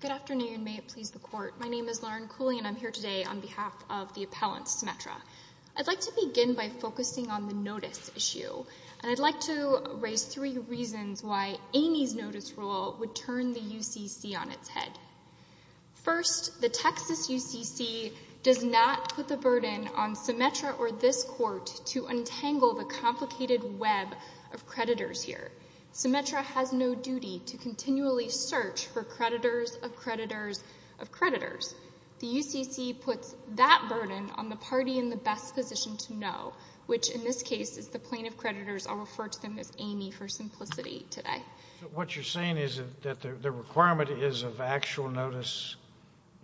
Good afternoon. May it please the Court. My name is Lauren Cooley and I'm here today on behalf of the appellant, Symetra. I'd like to begin by focusing on the notice issue. And I'd like to raise three reasons why Amy's notice rule would turn the UCC on its head. First, the Texas UCC does not put the burden on Symetra or this Court to untangle the complicated web of creditors here. Symetra has no duty to continually search for creditors of creditors of creditors. The UCC puts that burden on the party in the best position to know, which in this case is the plaintiff creditors. I'll refer to them as Amy for simplicity today. What you're saying is that the requirement is of actual notice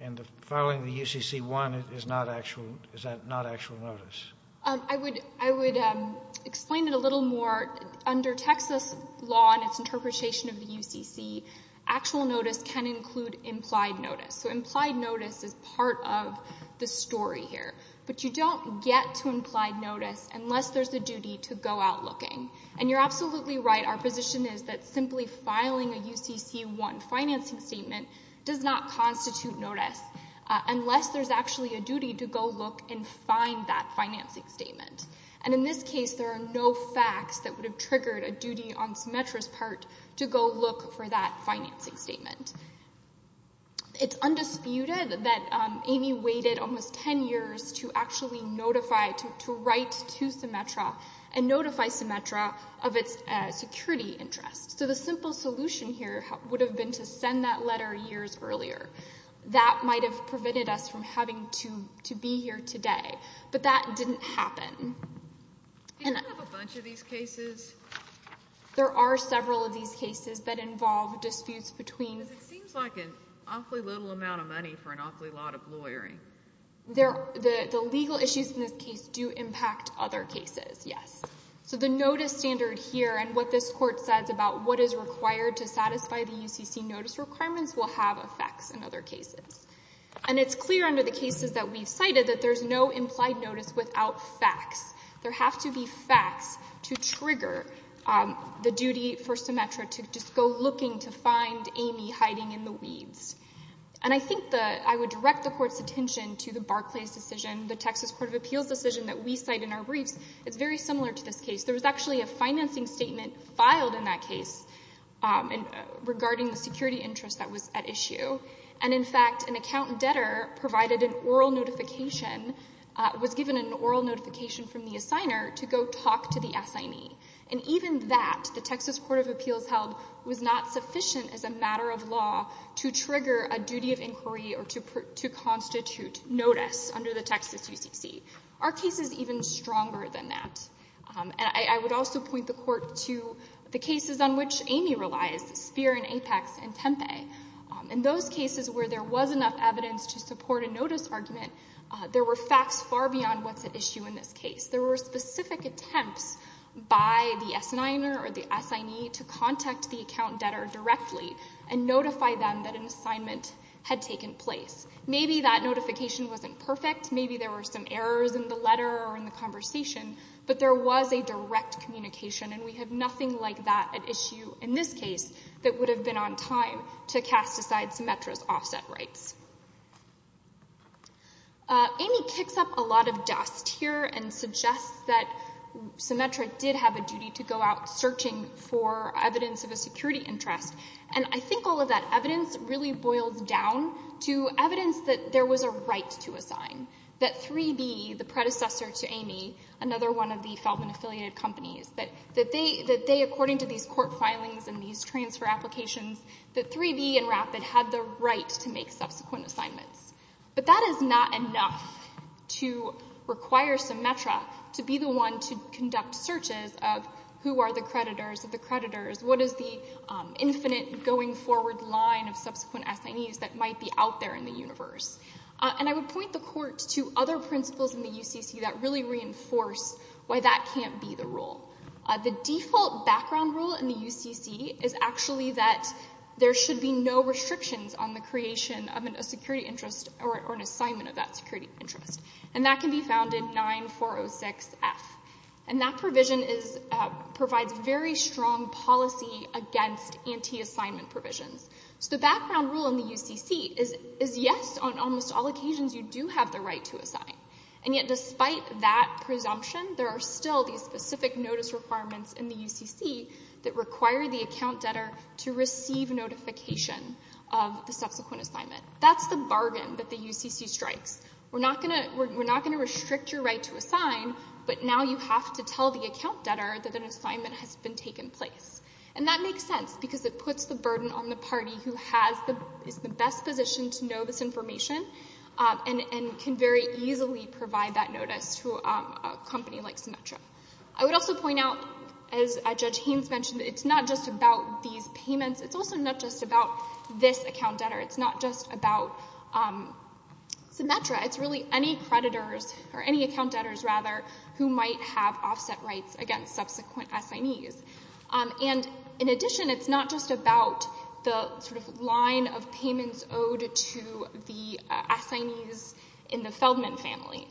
and the filing of the UCC-1 is not actual notice. I would explain it a little more. Under Texas law and its interpretation of the UCC, actual notice can include implied notice. So implied notice is part of the story here. But you don't get to implied notice unless there's a duty to go out looking. And you're absolutely right, our position is that simply filing a UCC-1 financing statement does not constitute notice unless there's actually a duty to go look and find that financing statement. And in this case, there are no facts that would have triggered a duty on Symetra's part to go look for that financing statement. It's undisputed that Amy waited almost 10 years to actually notify, to write to Symetra and notify Symetra of its security interests. So the simple solution here would have been to send that letter years earlier. That might have prevented us from having to be here today. But that didn't happen. Do you have a bunch of these cases? There are several of these cases that involve disputes between... Because it seems like an awfully little amount of money for an awfully lot of lawyering. The legal issues in this case do impact other cases, yes. So the notice standard here and what this Court says about what is required to satisfy the UCC notice requirements will have effects in other cases. And it's clear under the cases that we've cited that there's no implied notice without facts. There have to be facts to trigger the duty for Symetra to just go looking to find Amy hiding in the weeds. And I think that I would direct the Court's attention to the Barclays decision, the Texas Court of Appeals decision that we cite in our briefs. It's very similar to this case. There was actually a financing statement filed in that case regarding the security interest that was at issue. And, in fact, an accountant debtor provided an oral notification, was given an oral notification from the assigner to go talk to the assignee. And even that, the Texas Court of Appeals held, was not sufficient as a matter of law to trigger a duty of inquiry or to constitute notice under the Texas UCC. Are cases even stronger than that? And I would also point the Court to the cases on which Amy relies, Speer and Apex and Tempe. In those cases where there was enough evidence to support a notice argument, there were facts far beyond what's at issue in this case. There were specific attempts by the S-Niner or the assignee to contact the account debtor directly and notify them that an assignment had taken place. Maybe that notification wasn't perfect. Maybe there were some errors in the letter or in the conversation. But there was a direct communication, and we have nothing like that at issue in this case that would have been on time to cast aside Symetra's offset rights. Amy kicks up a lot of dust here and suggests that Symetra did have a duty to go out searching for evidence of a security interest. And I think all of that evidence really boils down to evidence that there was a right to assign, that 3B, the predecessor to Amy, another one of the Felvin-affiliated companies, that they, according to these court filings and these transfer applications, that 3B and Rapid had the right to make subsequent assignments. But that is not enough to require Symetra to be the one to conduct searches of who are the creditors of the creditors, what is the infinite going-forward line of subsequent assignees that might be out there in the universe. And I would point the court to other principles in the UCC that really reinforce why that can't be the rule. The default background rule in the UCC is actually that there should be no restrictions on the creation of a security interest or an assignment of that security interest. And that can be found in 9406F. And that provision provides very strong policy against anti-assignment provisions. So the background rule in the UCC is yes, on almost all occasions you do have the right to assign. And yet despite that presumption, there are still these specific notice requirements in the UCC that require the account debtor to receive notification of the subsequent assignment. That's the bargain that the UCC strikes. We're not going to restrict your right to assign, but now you have to tell the account debtor that an assignment has been taken place. And that makes sense because it puts the burden on the party who is in the best position to know this information and can very easily provide that notice to a company like Symetra. I would also point out, as Judge Haynes mentioned, it's not just about these payments. It's also not just about this account debtor. It's not just about Symetra. It's really any creditors, or any account debtors rather, who might have offset rights against subsequent assignees. In addition, it's not just about the line of payments owed to the assignees in the Feldman family.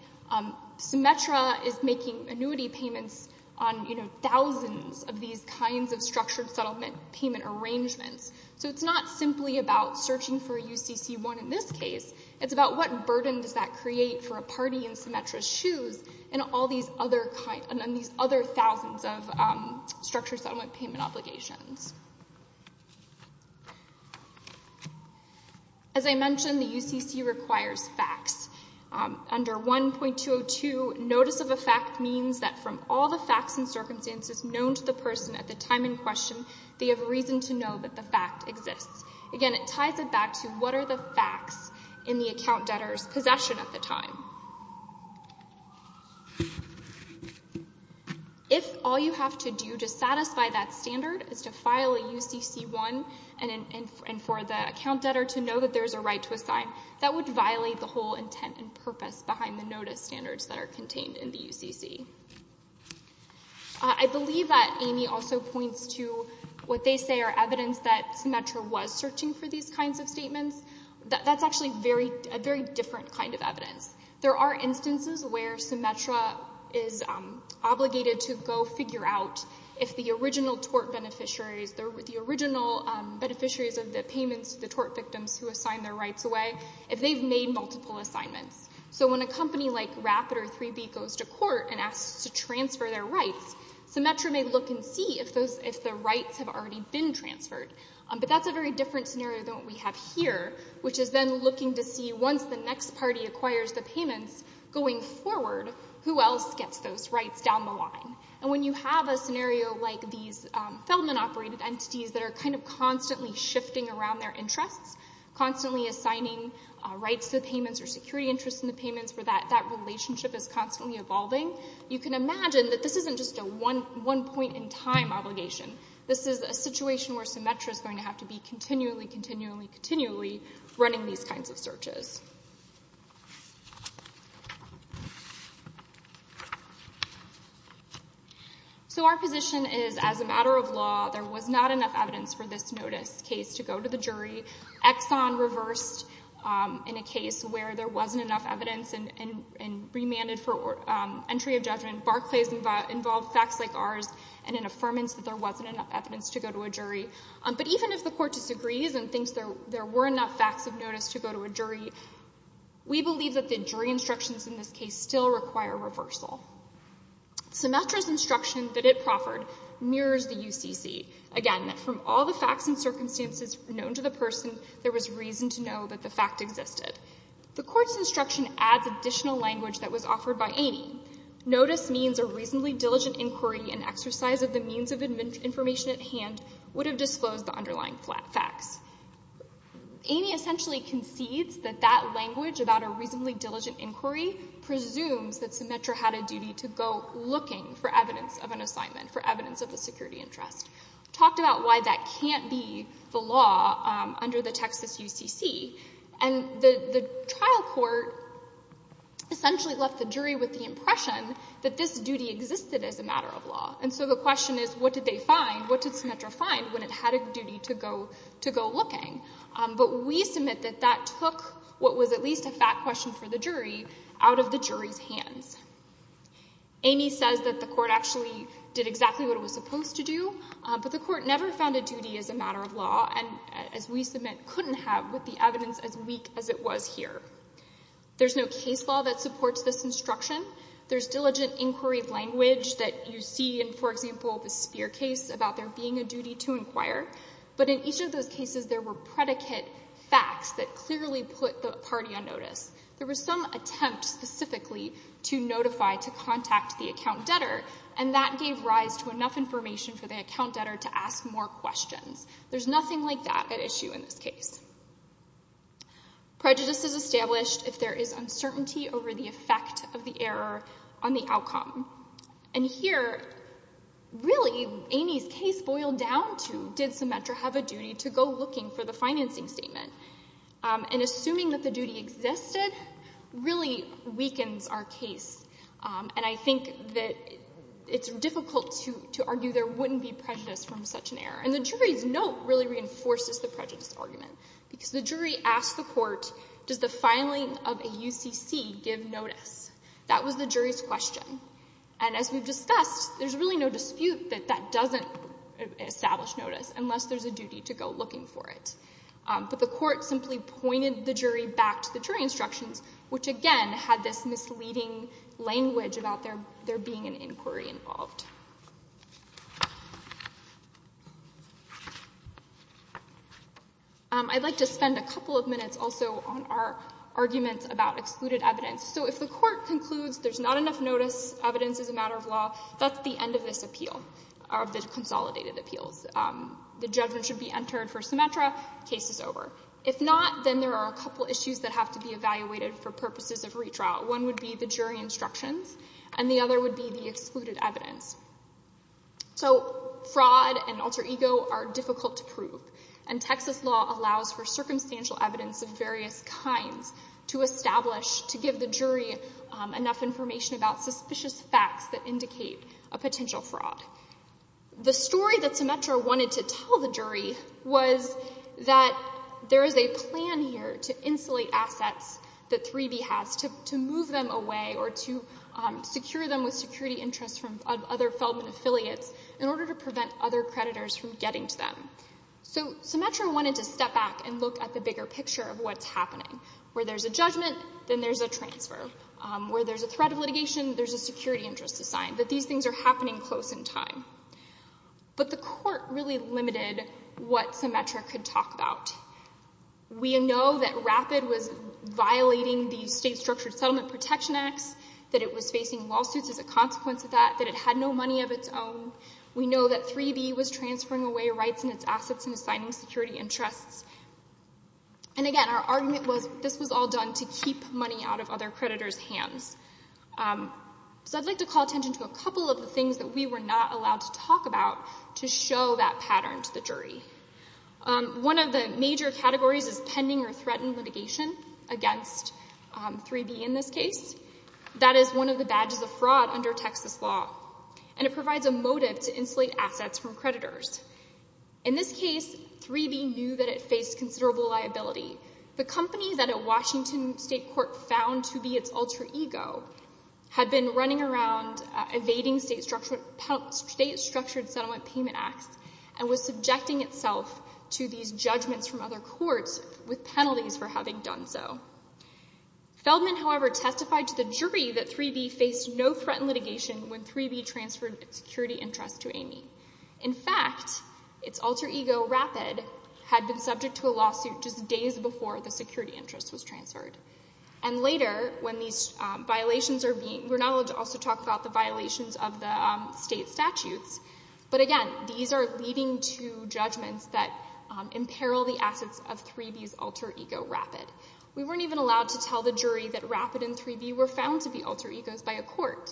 Symetra is making annuity payments on thousands of these kinds of structured settlement payment arrangements. So it's not simply about searching for a UCC-1 in this case. It's about what burden does that create for a party in Symetra's shoes on these other thousands of structured settlement payment obligations. As I mentioned, the UCC requires facts. Under 1.202, notice of a fact means that from all the facts and circumstances known to the person at the time in question, they have reason to know that the fact exists. Again, it ties it back to what are the facts in the account debtor's possession at the time. If all you have to do to satisfy that standard is to file a UCC-1 and for the account debtor to know that there's a right to assign, that would violate the whole intent and purpose behind the notice standards that are contained in the UCC. I believe that Amy also points to what they say are evidence that Symetra was searching for these kinds of statements. There are instances where Symetra is obligated to go figure out if the original tort beneficiaries, the original beneficiaries of the payments to the tort victims who assigned their rights away, if they've made multiple assignments. So when a company like Rapid or 3B goes to court and asks to transfer their rights, Symetra may look and see if the rights have already been transferred. But that's a very different scenario than what we have here, which is then looking to see once the next party acquires the payments going forward, who else gets those rights down the line. And when you have a scenario like these Feldman-operated entities that are kind of constantly shifting around their interests, constantly assigning rights to the payments or security interests in the payments where that relationship is constantly evolving, you can imagine that this isn't just a one-point-in-time obligation. This is a situation where Symetra is going to have to be continually, continually, continually running these kinds of searches. So our position is as a matter of law, there was not enough evidence for this notice case to go to the jury. Exxon reversed in a case where there wasn't enough evidence and remanded for entry of judgment. Barclays involved facts like ours and an affirmance that there wasn't enough evidence to go to a jury. But even if the court disagrees and thinks there were enough facts of notice to go to a jury, we believe that the jury instructions in this case still require reversal. Symetra's instruction that it proffered mirrors the UCC. Again, from all the facts and circumstances known to the person, there was reason to know that the fact existed. The court's instruction adds additional language that was offered by Amy. Notice means a reasonably diligent inquiry and exercise of the means of information at hand would have disclosed the underlying facts. Amy essentially concedes that that language about a reasonably diligent inquiry presumes that Symetra had a duty to go looking for evidence of an assignment, for evidence of a security interest. Talked about why that can't be the law under the Texas UCC. And the trial court essentially left the jury with the impression that this duty existed as a matter of law. And so the question is, what did they find? What did Symetra find when it had a duty to go looking? But we submit that that took what was at least a fact question for the jury out of the jury's hands. Amy says that the court actually did exactly what it was supposed to do, but the court never found a duty as a matter of law, and as we submit, couldn't have with the evidence as weak as it was here. There's no case law that supports this instruction. There's diligent inquiry of language that you see in, for example, the Spear case about there being a duty to inquire. But in each of those cases, there were predicate facts that clearly put the party on notice. There was some attempt specifically to notify, to contact the account debtor, and that gave rise to enough information for the account debtor to ask more questions. There's nothing like that at issue in this case. Prejudice is established if there is uncertainty over the effect of the error on the outcome. And here, really, Amy's case boiled down to, did Symetra have a duty to go looking for the financing statement? And assuming that the duty existed really weakens our case, and I think that it's difficult to argue there wouldn't be prejudice from such an error. And the jury's note really reinforces the prejudice argument, because the jury asked the court, does the filing of a UCC give notice? That was the jury's question. And as we've discussed, there's really no dispute that that doesn't establish notice unless there's a duty to go looking for it. But the court simply pointed the jury back to the jury instructions, which, again, had this misleading language about there being an inquiry involved. I'd like to spend a couple of minutes also on our arguments about excluded evidence. So if the court concludes there's not enough notice, evidence is a matter of law, that's the end of this appeal, of the consolidated appeals. The judgment should be entered for Symetra, case is over. If not, then there are a couple issues that have to be evaluated for purposes of retrial. One would be the jury instructions, and the other would be the excluded evidence. So fraud and alter ego are difficult to prove, and Texas law allows for circumstantial evidence of various kinds to establish, to give the jury enough information about suspicious facts that indicate a potential fraud. The story that Symetra wanted to tell the jury was that there is a plan here to insulate assets that 3B has, to move them away or to secure them with security interests from other Feldman affiliates in order to prevent other creditors from getting to them. So Symetra wanted to step back and look at the bigger picture of what's happening, where there's a judgment, then there's a transfer. Where there's a threat of litigation, there's a security interest assigned, that these things are happening close in time. But the court really limited what Symetra could talk about. We know that RAPID was violating the State Structured Settlement Protection Acts, that it was facing lawsuits as a consequence of that, that it had no money of its own. We know that 3B was transferring away rights and its assets and assigning security interests. And again, our argument was this was all done to keep money out of other creditors' hands. So I'd like to call attention to a couple of the things that we were not allowed to talk about to show that pattern to the jury. One of the major categories is pending or threatened litigation against 3B in this case. That is one of the badges of fraud under Texas law. And it provides a motive to insulate assets from creditors. In this case, 3B knew that it faced considerable liability. The company that a Washington State court found to be its alter ego had been running around evading State Structured Settlement Payment Acts and was subjecting itself to these judgments from other courts with penalties for having done so. Feldman, however, testified to the jury that 3B faced no threatened litigation when 3B transferred security interests to Amy. In fact, its alter ego, Rapid, had been subject to a lawsuit just days before the security interest was transferred. And later, when these violations are being— we're not allowed to also talk about the violations of the State statutes, but again, these are leading to judgments that imperil the assets of 3B's alter ego, Rapid. We weren't even allowed to tell the jury that Rapid and 3B were found to be alter egos by a court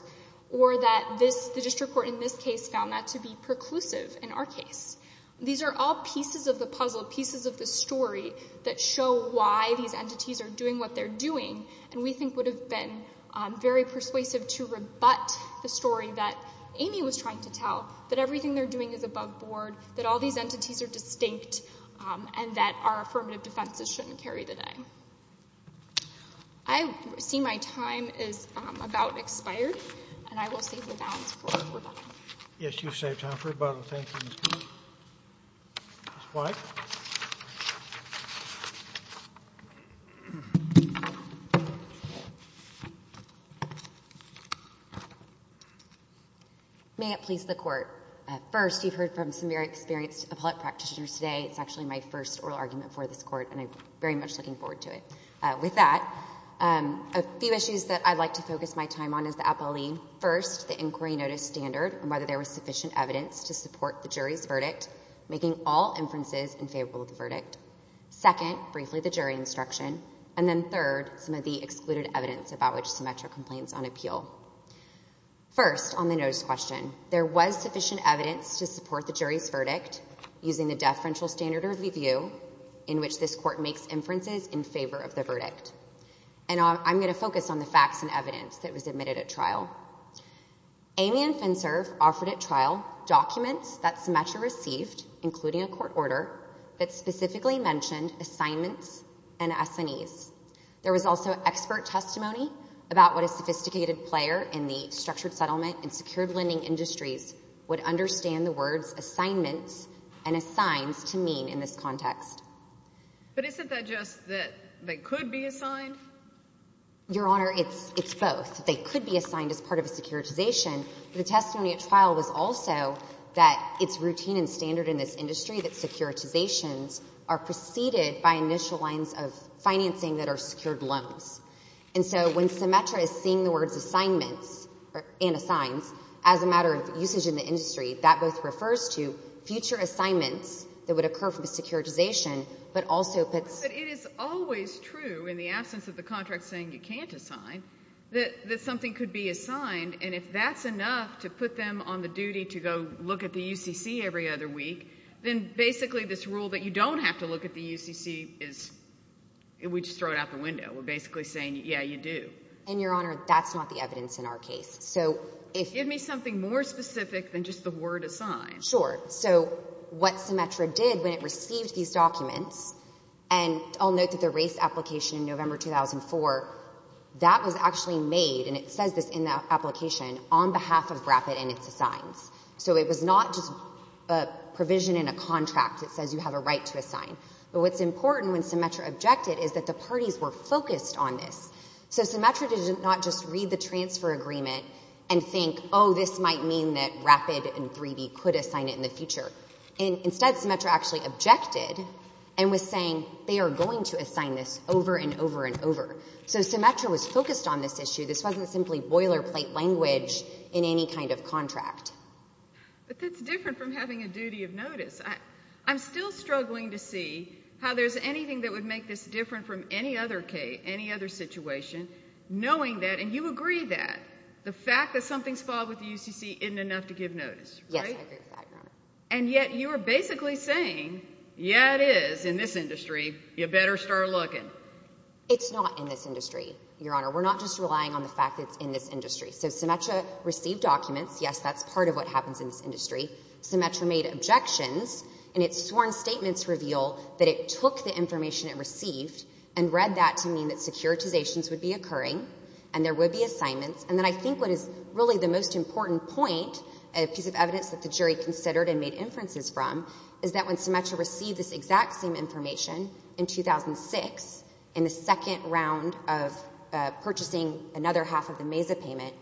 or that the district court in this case found that to be preclusive in our case. These are all pieces of the puzzle, pieces of the story, that show why these entities are doing what they're doing. And we think it would have been very persuasive to rebut the story that Amy was trying to tell, that everything they're doing is above board, that all these entities are distinct, and that our affirmative defenses shouldn't carry the day. I see my time is about expired, and I will save the balance for rebuttal. Yes, you've saved time for rebuttal. Thank you, Ms. White. May it please the Court. First, you've heard from some very experienced appellate practitioners today. It's actually my first oral argument for this Court, and I'm very much looking forward to it. With that, a few issues that I'd like to focus my time on as the appellee. First, the inquiry notice standard, and whether there was sufficient evidence to support the jury's verdict, making all inferences in favor of the verdict. Second, briefly the jury instruction. And then third, some of the excluded evidence about which Symmetra complains on appeal. First, on the notice question, there was sufficient evidence to support the jury's verdict using the deferential standard of review, in which this Court makes inferences in favor of the verdict. And I'm going to focus on the facts and evidence that was admitted at trial. Amy and FinServ offered at trial documents that Symmetra received, including a court order that specifically mentioned assignments and S&Es. There was also expert testimony about what a sophisticated player in the structured settlement and secured lending industries would understand the words assignments and assigns to mean in this context. But isn't that just that they could be assigned? Your Honor, it's both. They could be assigned as part of a securitization. The testimony at trial was also that it's routine and standard in this industry that securitizations are preceded by initial lines of financing that are secured loans. And so when Symmetra is seeing the words assignments and assigns as a matter of usage in the industry, that both refers to future assignments that would occur from a securitization, but also puts... But it is always true, in the absence of the contract saying you can't assign, that something could be assigned, and if that's enough to put them on the duty to go look at the UCC every other week, then basically this rule that you don't have to look at the UCC is... We just throw it out the window. We're basically saying, yeah, you do. And, Your Honor, that's not the evidence in our case. So if... Give me something more specific than just the word assign. Sure. So what Symmetra did when it received these documents, and I'll note that the race application in November 2004, that was actually made, and it says this in the application, on behalf of BRAFIT and its assigns. So it was not just a provision in a contract that says you have a right to assign. But what's important, when Symmetra objected, is that the parties were focused on this. So Symmetra did not just read the transfer agreement and think, oh, this might mean that BRAFIT and 3B could assign it in the future. Instead, Symmetra actually objected and was saying they are going to assign this over and over and over. So Symmetra was focused on this issue. This wasn't simply boilerplate language in any kind of contract. But that's different from having a duty of notice. I'm still struggling to see how there's anything that would make this different from any other case, any other situation, knowing that, and you agree that, the fact that something's filed with the UCC isn't enough to give notice, right? Yes, I agree with that, Your Honor. And yet you are basically saying, yeah, it is in this industry. You better start looking. It's not in this industry, Your Honor. We're not just relying on the fact that it's in this industry. So Symmetra received documents. Yes, that's part of what happens in this industry. Symmetra made objections. And its sworn statements reveal that it took the information it received and read that to mean that securitizations would be occurring and there would be assignments. And then I think what is really the most important point, a piece of evidence that the jury considered and made inferences from, is that when Symmetra received this exact same information in 2006, in the second round of purchasing another half of the MESA payment,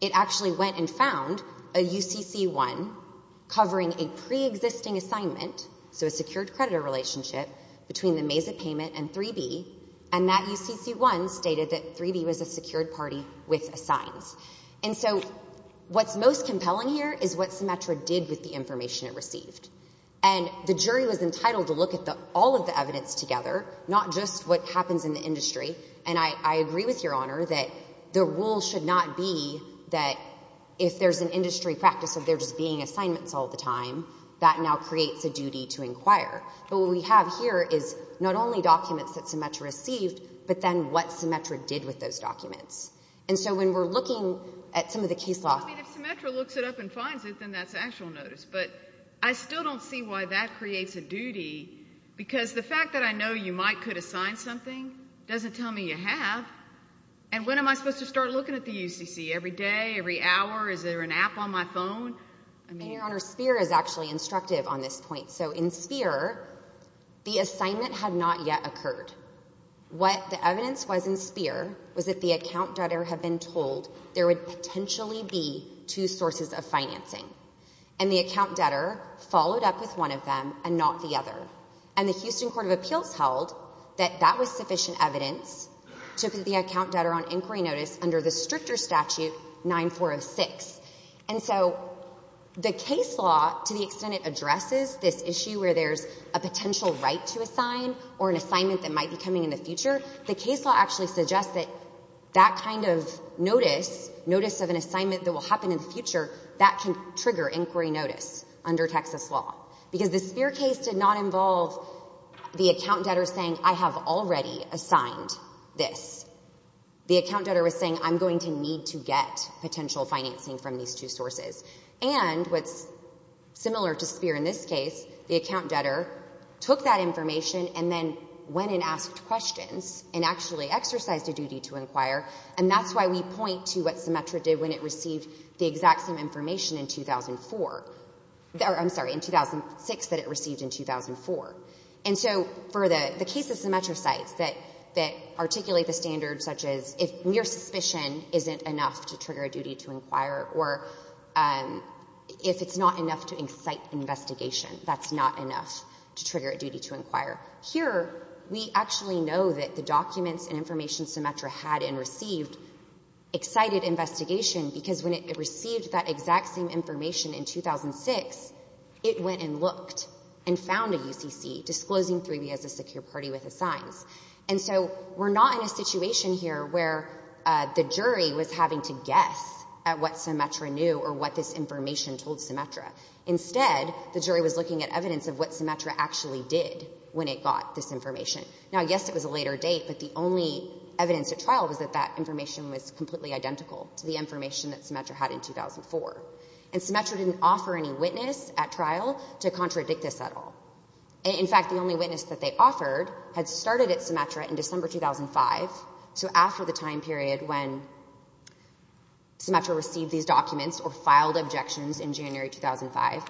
it actually went and found a UCC-1 covering a preexisting assignment, so a secured creditor relationship, between the MESA payment and 3B, and that UCC-1 stated that 3B was a secured party with assigns. And so what's most compelling here is what Symmetra did with the information it received. And the jury was entitled to look at all of the evidence together, not just what happens in the industry. And I agree with Your Honor that the rule should not be that if there's an industry practice of there just being assignments all the time, that now creates a duty to inquire. But what we have here is not only documents that Symmetra received, but then what Symmetra did with those documents. And so when we're looking at some of the case law— I mean, if Symmetra looks it up and finds it, then that's actual notice. But I still don't see why that creates a duty, because the fact that I know you might could assign something doesn't tell me you have. And when am I supposed to start looking at the UCC? Every day? Every hour? Is there an app on my phone? Your Honor, Speer is actually instructive on this point. So in Speer, the assignment had not yet occurred. What the evidence was in Speer was that the account debtor had been told there would potentially be two sources of financing, and the account debtor followed up with one of them and not the other. And the Houston Court of Appeals held that that was sufficient evidence to put the account debtor on inquiry notice under the stricter statute 9406. And so the case law, to the extent it addresses this issue where there's a potential right to assign or an assignment that might be coming in the future, the case law actually suggests that that kind of notice, notice of an assignment that will happen in the future, that can trigger inquiry notice under Texas law. Because the Speer case did not involve the account debtor saying, I have already assigned this. The account debtor was saying, I'm going to need to get potential financing from these two sources. And what's similar to Speer in this case, the account debtor took that information and then went and asked questions and actually exercised a duty to inquire, and that's why we point to what Symetra did when it received the exact same information in 2004. I'm sorry, in 2006 that it received in 2004. And so for the case of Symetra sites that articulate the standard such as if mere suspicion isn't enough to trigger a duty to inquire or if it's not enough to incite investigation, that's not enough to trigger a duty to inquire. Here we actually know that the documents and information Symetra had and received excited investigation because when it received that exact same information in 2006, it went and looked and found a UCC disclosing 3B as a secure party with assigns. And so we're not in a situation here where the jury was having to guess at what Symetra knew or what this information told Symetra. Instead, the jury was looking at evidence of what Symetra actually did when it got this information. Now, yes, it was a later date, but the only evidence at trial was that that information was completely identical to the information that Symetra had in 2004. And Symetra didn't offer any witness at trial to contradict this at all. In fact, the only witness that they offered had started at Symetra in December 2005, so after the time period when Symetra received these documents or filed objections in January 2005,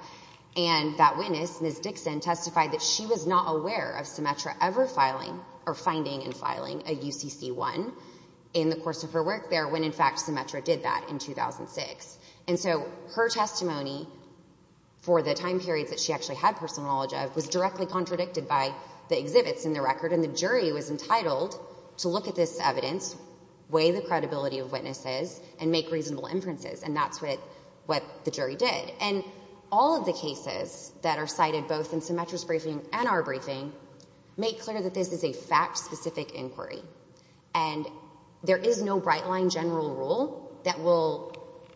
and that witness, Ms. Dixon, testified that she was not aware of Symetra ever filing or finding and filing a UCC-1 in the course of her work there when, in fact, Symetra did that in 2006. And so her testimony for the time period that she actually had personal knowledge of was directly contradicted by the exhibits in the record, and the jury was entitled to look at this evidence, weigh the credibility of witnesses, and make reasonable inferences. And that's what the jury did. And all of the cases that are cited both in Symetra's briefing and our briefing make clear that this is a fact-specific inquiry, and there is no bright-line general rule that will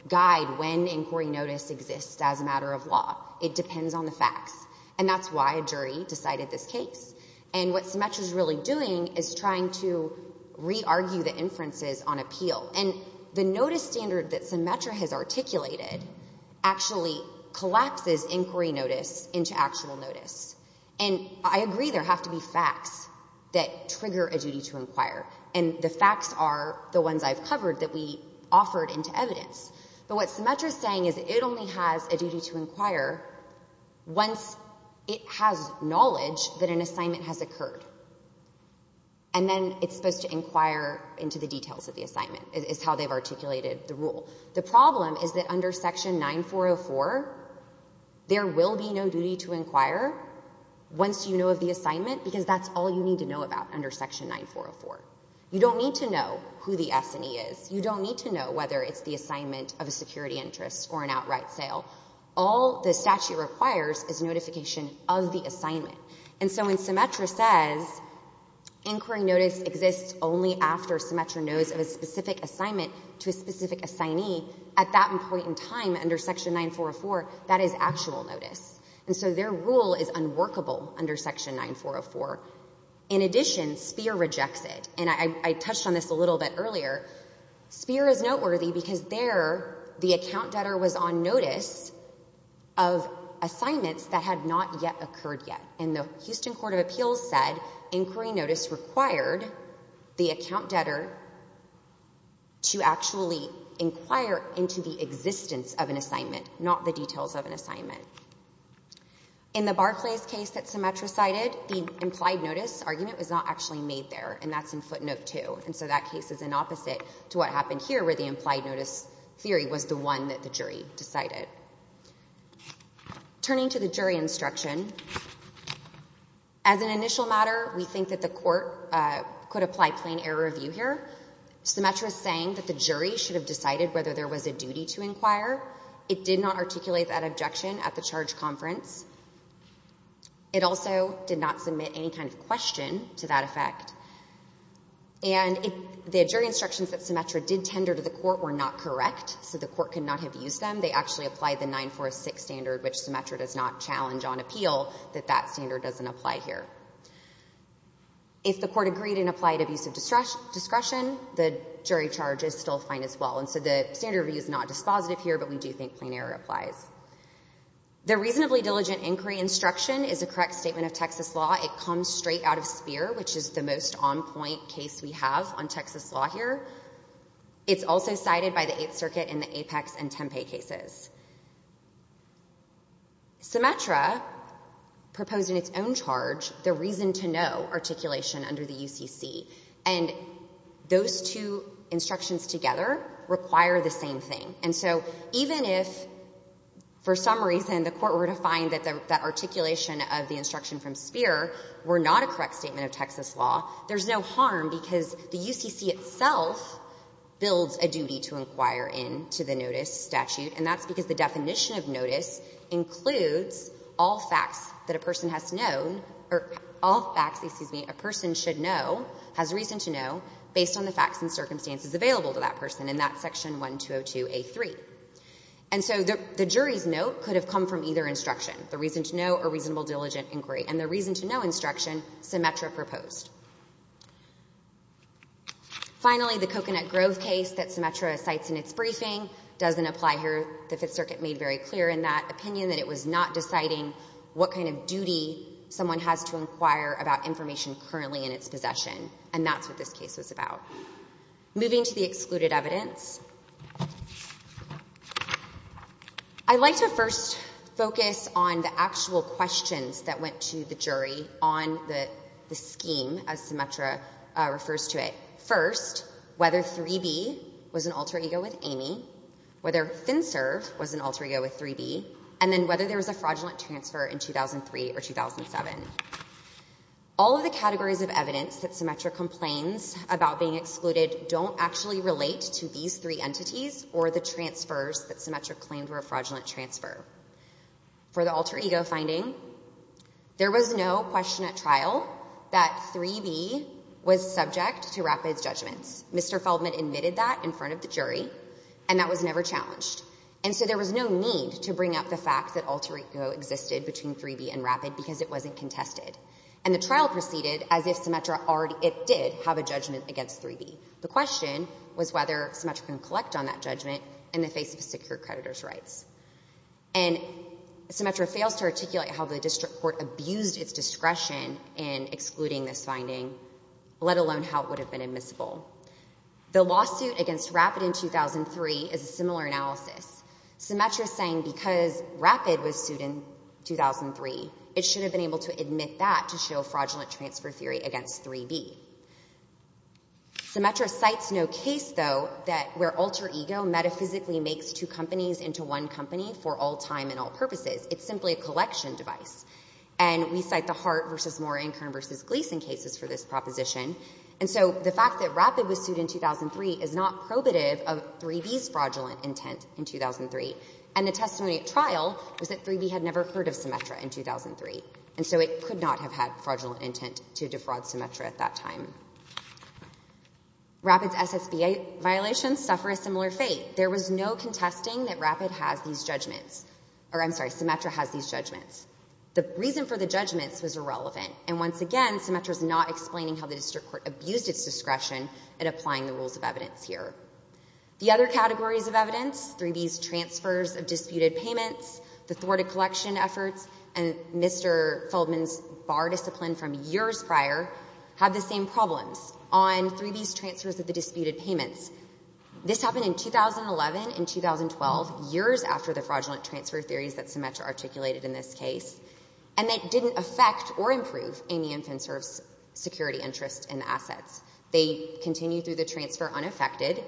guide when inquiry notice exists as a matter of law. It depends on the facts, and that's why a jury decided this case. And what Symetra's really doing is trying to re-argue the inferences on appeal. And the notice standard that Symetra has articulated actually collapses inquiry notice into actual notice. And I agree there have to be facts that trigger a duty to inquire, and the facts are the ones I've covered that we offered into evidence. But what Symetra's saying is it only has a duty to inquire once it has knowledge that an assignment has occurred, and then it's supposed to inquire into the details of the assignment, is how they've articulated the rule. The problem is that under Section 9404, there will be no duty to inquire once you know of the assignment, because that's all you need to know about under Section 9404. You don't need to know who the S&E is. You don't need to know whether it's the assignment of a security interest or an outright sale. All the statute requires is notification of the assignment. And so when Symetra says inquiry notice exists only after Symetra knows of a specific assignment to a specific assignee at that point in time under Section 9404, that is actual notice. And so their rule is unworkable under Section 9404. In addition, SPEER rejects it. And I touched on this a little bit earlier. SPEER is noteworthy because there the account debtor was on notice of assignments that had not yet occurred yet. And the Houston Court of Appeals said inquiry notice required the account debtor to actually inquire into the existence of an assignment, not the details of an assignment. In the Barclays case that Symetra cited, the implied notice argument was not actually made there, and that's in footnote 2. And so that case is an opposite to what happened here, where the implied notice theory was the one that the jury decided. Turning to the jury instruction, as an initial matter, we think that the court could apply plain error review here. Symetra is saying that the jury should have decided whether there was a duty to inquire. It did not articulate that objection at the charge conference. It also did not submit any kind of question to that effect. And the jury instructions that Symetra did tender to the court were not correct, so the court could not have used them. They actually applied the 946 standard, which Symetra does not challenge on appeal, that that standard doesn't apply here. If the court agreed and applied abuse of discretion, the jury charge is still fine as well. And so the standard review is not dispositive here, but we do think plain error applies. The reasonably diligent inquiry instruction is a correct statement of Texas law. It comes straight out of Speer, which is the most on-point case we have on Texas law here. It's also cited by the Eighth Circuit in the Apex and Tempe cases. Symetra proposed in its own charge the reason to no articulation under the UCC, and those two instructions together require the same thing. And so even if for some reason the court were to find that the articulation of the instruction from Speer were not a correct statement of Texas law, there's no harm because the UCC itself builds a duty to inquire into the notice statute, and that's because the definition of notice includes all facts that a person has known, or all facts, excuse me, a person should know, has reason to know, based on the facts and circumstances available to that person in that section 1202A3. And so the jury's note could have come from either instruction, the reason to know or reasonable diligent inquiry. And the reason to no instruction Symetra proposed. Finally, the Coconut Grove case that Symetra cites in its briefing doesn't apply here. The Fifth Circuit made very clear in that opinion that it was not deciding what kind of duty someone has to inquire about information currently in its possession, and that's what this case was about. Moving to the excluded evidence. I'd like to first focus on the actual questions that went to the jury on the scheme as Symetra refers to it. First, whether 3B was an alter ego with Amy, whether FinServ was an alter ego with 3B, and then whether there was a fraudulent transfer in 2003 or 2007. All of the categories of evidence that Symetra complains about being excluded don't actually relate to these three entities or the transfers that Symetra claimed were a fraudulent transfer. For the alter ego finding, there was no question at trial that 3B was subject to Rapid's judgments. Mr. Feldman admitted that in front of the jury, and that was never challenged. And so there was no need to bring up the fact that alter ego existed between 3B and Rapid because it wasn't contested. And the trial proceeded as if Symetra did have a judgment against 3B. The question was whether Symetra can collect on that judgment in the face of secured creditor's rights. And Symetra fails to articulate how the district court abused its discretion in excluding this finding, let alone how it would have been admissible. The lawsuit against Rapid in 2003 is a similar analysis. Symetra is saying because Rapid was sued in 2003, it should have been able to admit that to show fraudulent transfer theory against 3B. Symetra cites no case, though, where alter ego metaphysically makes two companies into one company for all time and all purposes. It's simply a collection device. And we cite the Hart v. Moore and Kern v. Gleason cases for this proposition. And so the fact that Rapid was sued in 2003 is not probative of 3B's fraudulent intent in 2003. And the testimony at trial was that 3B had never heard of Symetra in 2003. And so it could not have had fraudulent intent to defraud Symetra at that time. Rapid's SSBA violations suffer a similar fate. There was no contesting that Rapid has these judgments. Or, I'm sorry, Symetra has these judgments. The reason for the judgments was irrelevant. And once again, Symetra is not explaining how the district court abused its discretion in applying the rules of evidence here. The other categories of evidence, 3B's transfers of disputed payments, the thwarted collection efforts, and Mr. Feldman's bar discipline from years prior, have the same problems on 3B's transfers of the disputed payments. This happened in 2011 and 2012, years after the fraudulent transfer theories that Symetra articulated in this case. And it didn't affect or improve Amy and Finster's security interest in assets. They continue through the transfer unaffected.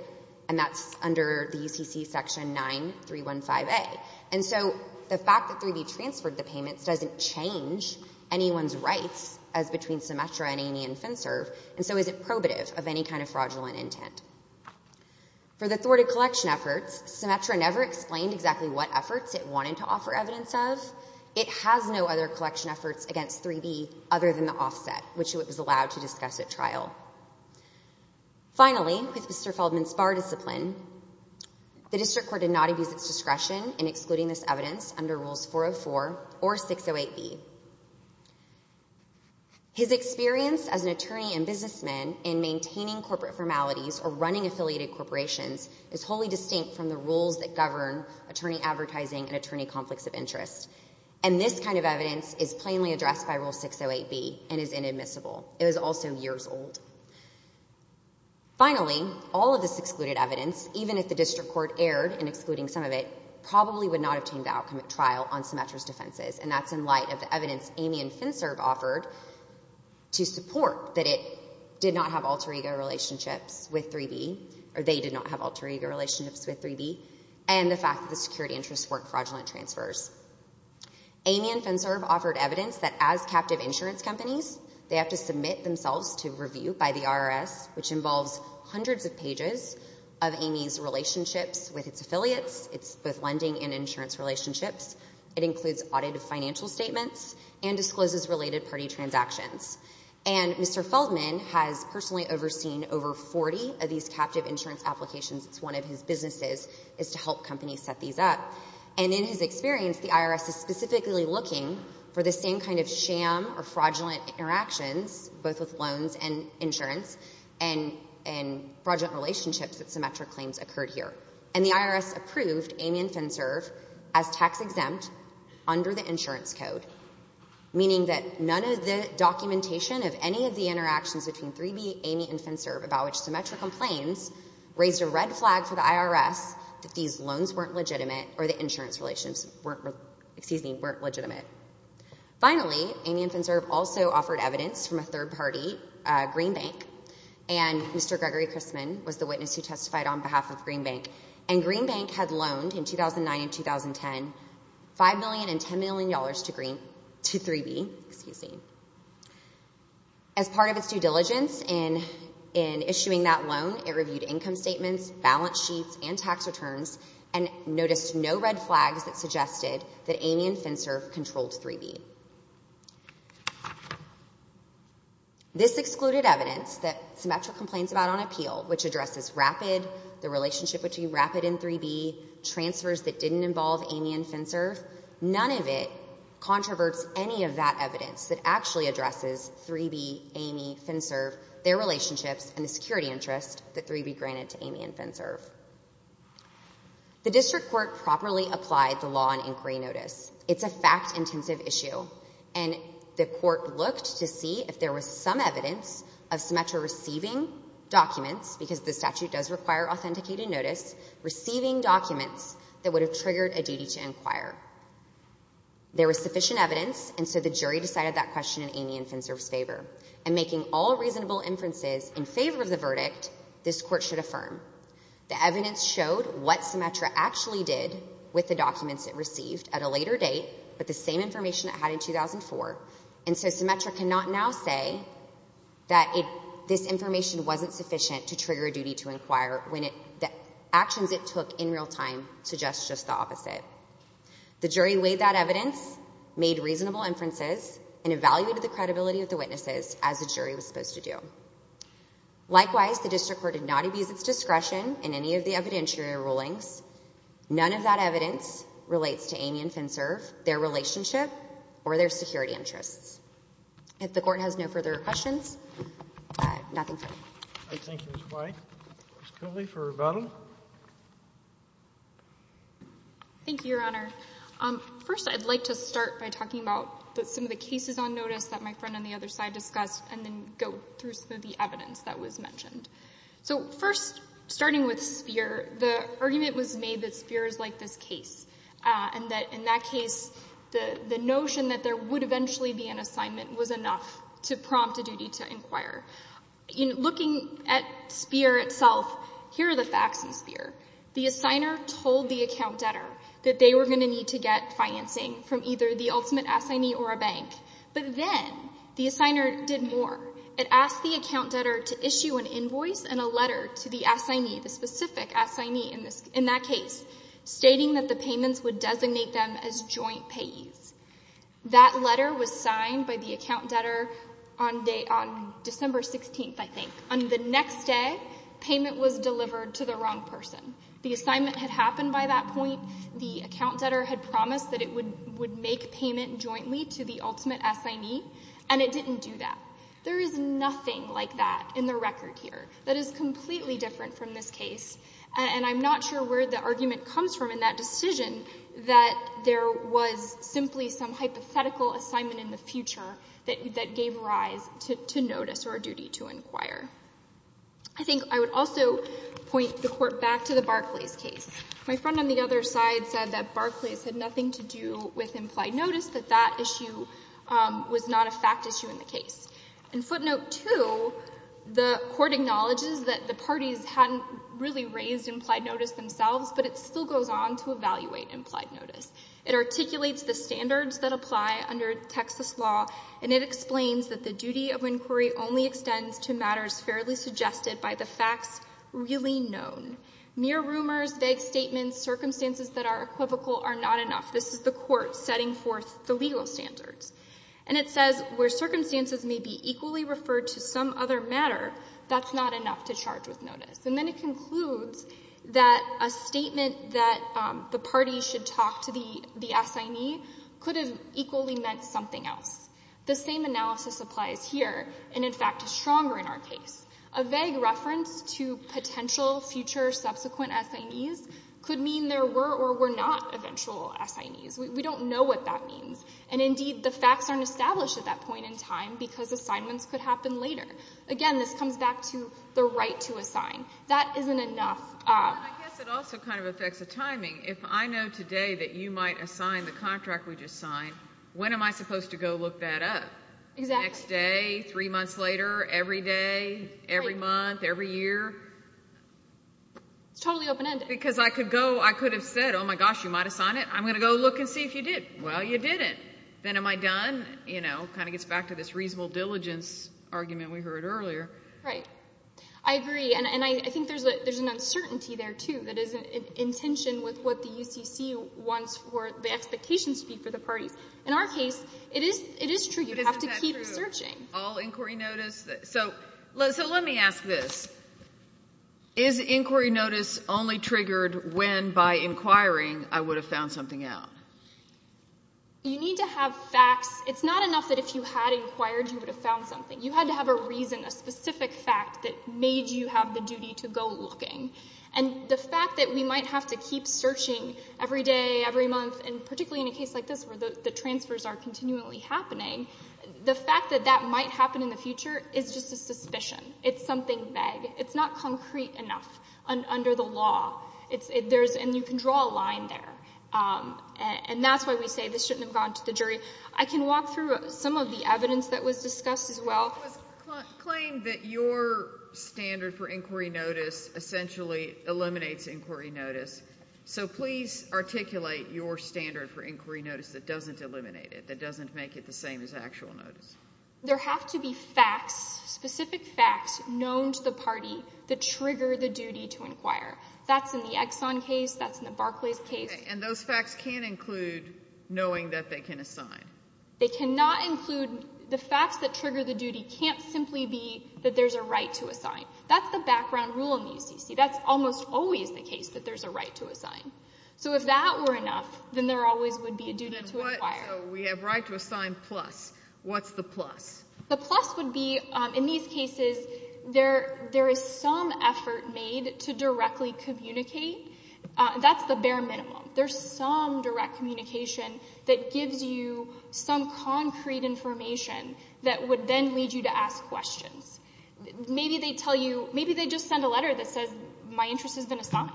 And that's under the UCC Section 9315A. And so the fact that 3B transferred the payments doesn't change anyone's rights as between Symetra and Amy and Finster. And so is it probative of any kind of fraudulent intent? For the thwarted collection efforts, Symetra never explained exactly what efforts it wanted to offer evidence of. It has no other collection efforts against 3B other than the offset, which it was allowed to discuss at trial. Finally, with Mr. Feldman's bar discipline, the District Court did not abuse its discretion in excluding this evidence under Rules 404 or 608B. His experience as an attorney and businessman in maintaining corporate formalities or running affiliated corporations is wholly distinct from the rules that govern attorney advertising and attorney conflicts of interest. And this kind of evidence is plainly addressed by Rule 608B and is inadmissible. It was also years old. Finally, all of this excluded evidence, even if the District Court erred in excluding some of it, probably would not have changed the outcome at trial on Symetra's defenses. And that's in light of the evidence Amy and Finster have offered to support that it did not have alter ego relationships with 3B, or they did not have alter ego relationships with 3B, and the fact that the security interests weren't fraudulent transfers. Amy and Finster have offered evidence that as captive insurance companies, they have to submit themselves to review by the IRS, which involves hundreds of pages of Amy's relationships with its affiliates, its lending and insurance relationships. It includes audited financial statements and discloses related party transactions. And Mr. Feldman has personally overseen over 40 of these captive insurance applications. It's one of his businesses, is to help companies set these up. And in his experience, the IRS is specifically looking for the same kind of sham or fraudulent interactions, both with loans and insurance, and fraudulent relationships that Symetra claims occurred here. And the IRS approved Amy and Finster as tax-exempt under the insurance code, meaning that none of the documentation of any of the interactions between 3B, Amy and Finster, about which Symetra complains, raised a red flag for the IRS that these loans weren't legitimate or the insurance relations weren't legitimate. Finally, Amy and Finster also offered evidence from a third party, Green Bank, and Mr. Gregory Christman was the witness who testified on behalf of Green Bank. And Green Bank had loaned in 2009 and 2010 $5 million and $10 million to 3B. As part of its due diligence in issuing that loan, it reviewed income statements, balance sheets, and tax returns, and noticed no red flags that suggested that Amy and Finster controlled 3B. This excluded evidence that Symetra complains about on appeal, which addresses RAPID, the relationship between RAPID and 3B, transfers that didn't involve Amy and Finster. None of it controverts any of that evidence that actually addresses 3B, Amy, Finster, their relationships, and the security interest that 3B granted to Amy and Finster. The district court properly applied the law on inquiry notice. It's a fact-intensive issue. And the court looked to see if there was some evidence of Symetra receiving documents, because the statute does require authenticated notice, receiving documents that would have triggered a duty to inquire. There was sufficient evidence, and so the jury decided that question in Amy and Finster's favor. And making all reasonable inferences in favor of the verdict, this court should affirm. The evidence showed what Symetra actually did with the documents it received at a later date, but the same information it had in 2004. And so Symetra cannot now say that this information wasn't sufficient to trigger a duty to inquire when the actions it took in real time suggest just the opposite. The jury weighed that evidence, made reasonable inferences, and evaluated the credibility of the witnesses as the jury was supposed to do. Likewise, the district court did not abuse its discretion in any of the evidentiary rulings. None of that evidence relates to Amy and Finster, their relationship, or their security interests. If the Court has no further questions, nothing further. I thank Ms. White. Ms. Killey for rebuttal. Thank you, Your Honor. First, I'd like to start by talking about some of the cases on notice that my friend on the other side discussed, and then go through some of the evidence that was mentioned. So first, starting with Speer, the argument was made that Speer is like this case, and that in that case the notion that there would eventually be an assignment was enough to prompt a duty to inquire. Looking at Speer itself, here are the facts in Speer. The assigner told the account debtor that they were going to need to get financing from either the ultimate assignee or a bank. But then the assigner did more. It asked the account debtor to issue an invoice and a letter to the assignee, the specific assignee in that case, stating that the payments would designate them as joint payees. That letter was signed by the account debtor on December 16th, I think. On the next day, payment was delivered to the wrong person. The assignment had happened by that point. The account debtor had promised that it would make payment jointly to the ultimate assignee, and it didn't do that. There is nothing like that in the record here. That is completely different from this case, and I'm not sure where the argument comes from in that decision that there was simply some hypothetical assignment in the future that gave rise to notice or a duty to inquire. I think I would also point the Court back to the Barclays case. My friend on the other side said that Barclays had nothing to do with implied notice, that that issue was not a fact issue in the case. And footnote 2, the Court acknowledges that the parties hadn't really raised implied notice themselves, but it still goes on to evaluate implied notice. It articulates the standards that apply under Texas law, and it explains that the duty of inquiry only extends to matters fairly suggested by the facts really known. Mere rumors, vague statements, circumstances that are equivocal are not enough. This is the Court setting forth the legal standards. And it says where circumstances may be equally referred to some other matter, that's not enough to charge with notice. And then it concludes that a statement that the parties should talk to the assignee could have equally meant something else. The same analysis applies here and, in fact, is stronger in our case. A vague reference to potential future subsequent assignees could mean there were or were not eventual assignees. We don't know what that means. And, indeed, the facts aren't established at that point in time because assignments could happen later. Again, this comes back to the right to assign. That isn't enough. I guess it also kind of affects the timing. If I know today that you might assign the contract we just signed, when am I supposed to go look that up? Exactly. Next day, three months later, every day, every month, every year? It's totally open-ended. Because I could go, I could have said, oh, my gosh, you might assign it. I'm going to go look and see if you did. Well, you didn't. Then am I done? You know, it kind of gets back to this reasonable diligence argument we heard earlier. Right. I agree. And I think there's an uncertainty there, too, that is in tension with what the UCC wants for the expectations to be for the parties. In our case, it is true. You have to keep searching. But isn't that true? All inquiry notice? So let me ask this. Is inquiry notice only triggered when, by inquiring, I would have found something out? You need to have facts. It's not enough that if you had inquired, you would have found something. You had to have a reason, a specific fact that made you have the duty to go looking. And the fact that we might have to keep searching every day, every month, and particularly in a case like this where the transfers are continually happening, the fact that that might happen in the future is just a suspicion. It's something vague. It's not concrete enough under the law. And you can draw a line there. And that's why we say this shouldn't have gone to the jury. I can walk through some of the evidence that was discussed as well. It was claimed that your standard for inquiry notice essentially eliminates inquiry notice. So please articulate your standard for inquiry notice that doesn't eliminate it, that doesn't make it the same as actual notice. There have to be facts, specific facts, known to the party that trigger the duty to inquire. That's in the Exxon case. That's in the Barclays case. Okay. And those facts can't include knowing that they can assign. They cannot include the facts that trigger the duty can't simply be that there's a right to assign. That's the background rule in the UCC. That's almost always the case that there's a right to assign. So if that were enough, then there always would be a duty to inquire. So we have right to assign plus. What's the plus? The plus would be in these cases there is some effort made to directly communicate. That's the bare minimum. There's some direct communication that gives you some concrete information that would then lead you to ask questions. Maybe they tell you, maybe they just send a letter that says my interest has been assigned.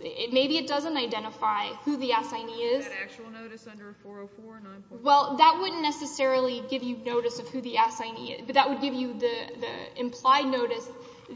Maybe it doesn't identify who the assignee is. Is that actual notice under 404? Well, that wouldn't necessarily give you notice of who the assignee is, but that would give you the implied notice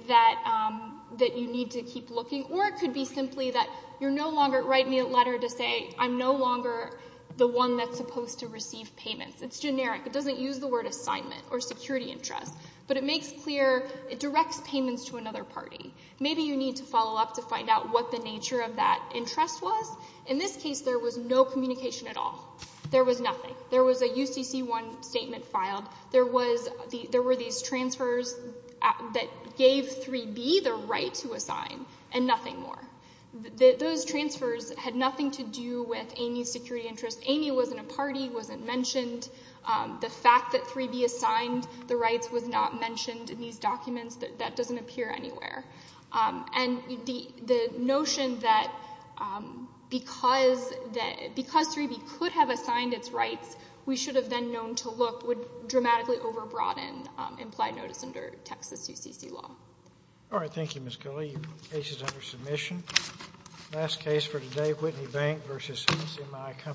that you need to keep looking. Or it could be simply that you're no longer writing me a letter to say I'm no longer the one that's supposed to receive payments. It's generic. It doesn't use the word assignment or security interest. But it makes clear, it directs payments to another party. Maybe you need to follow up to find out what the nature of that interest was. In this case, there was no communication at all. There was nothing. There was a UCC1 statement filed. There were these transfers that gave 3B the right to assign and nothing more. Those transfers had nothing to do with Amy's security interest. Amy wasn't a party, wasn't mentioned. The fact that 3B assigned the rights was not mentioned in these documents, that doesn't appear anywhere. And the notion that because 3B could have assigned its rights, we should have then known to look would dramatically overbroaden implied notice under Texas UCC law. All right. Thank you, Ms. Kelley. Case is under submission. Last case for today, Whitney Bank v. CMI Company.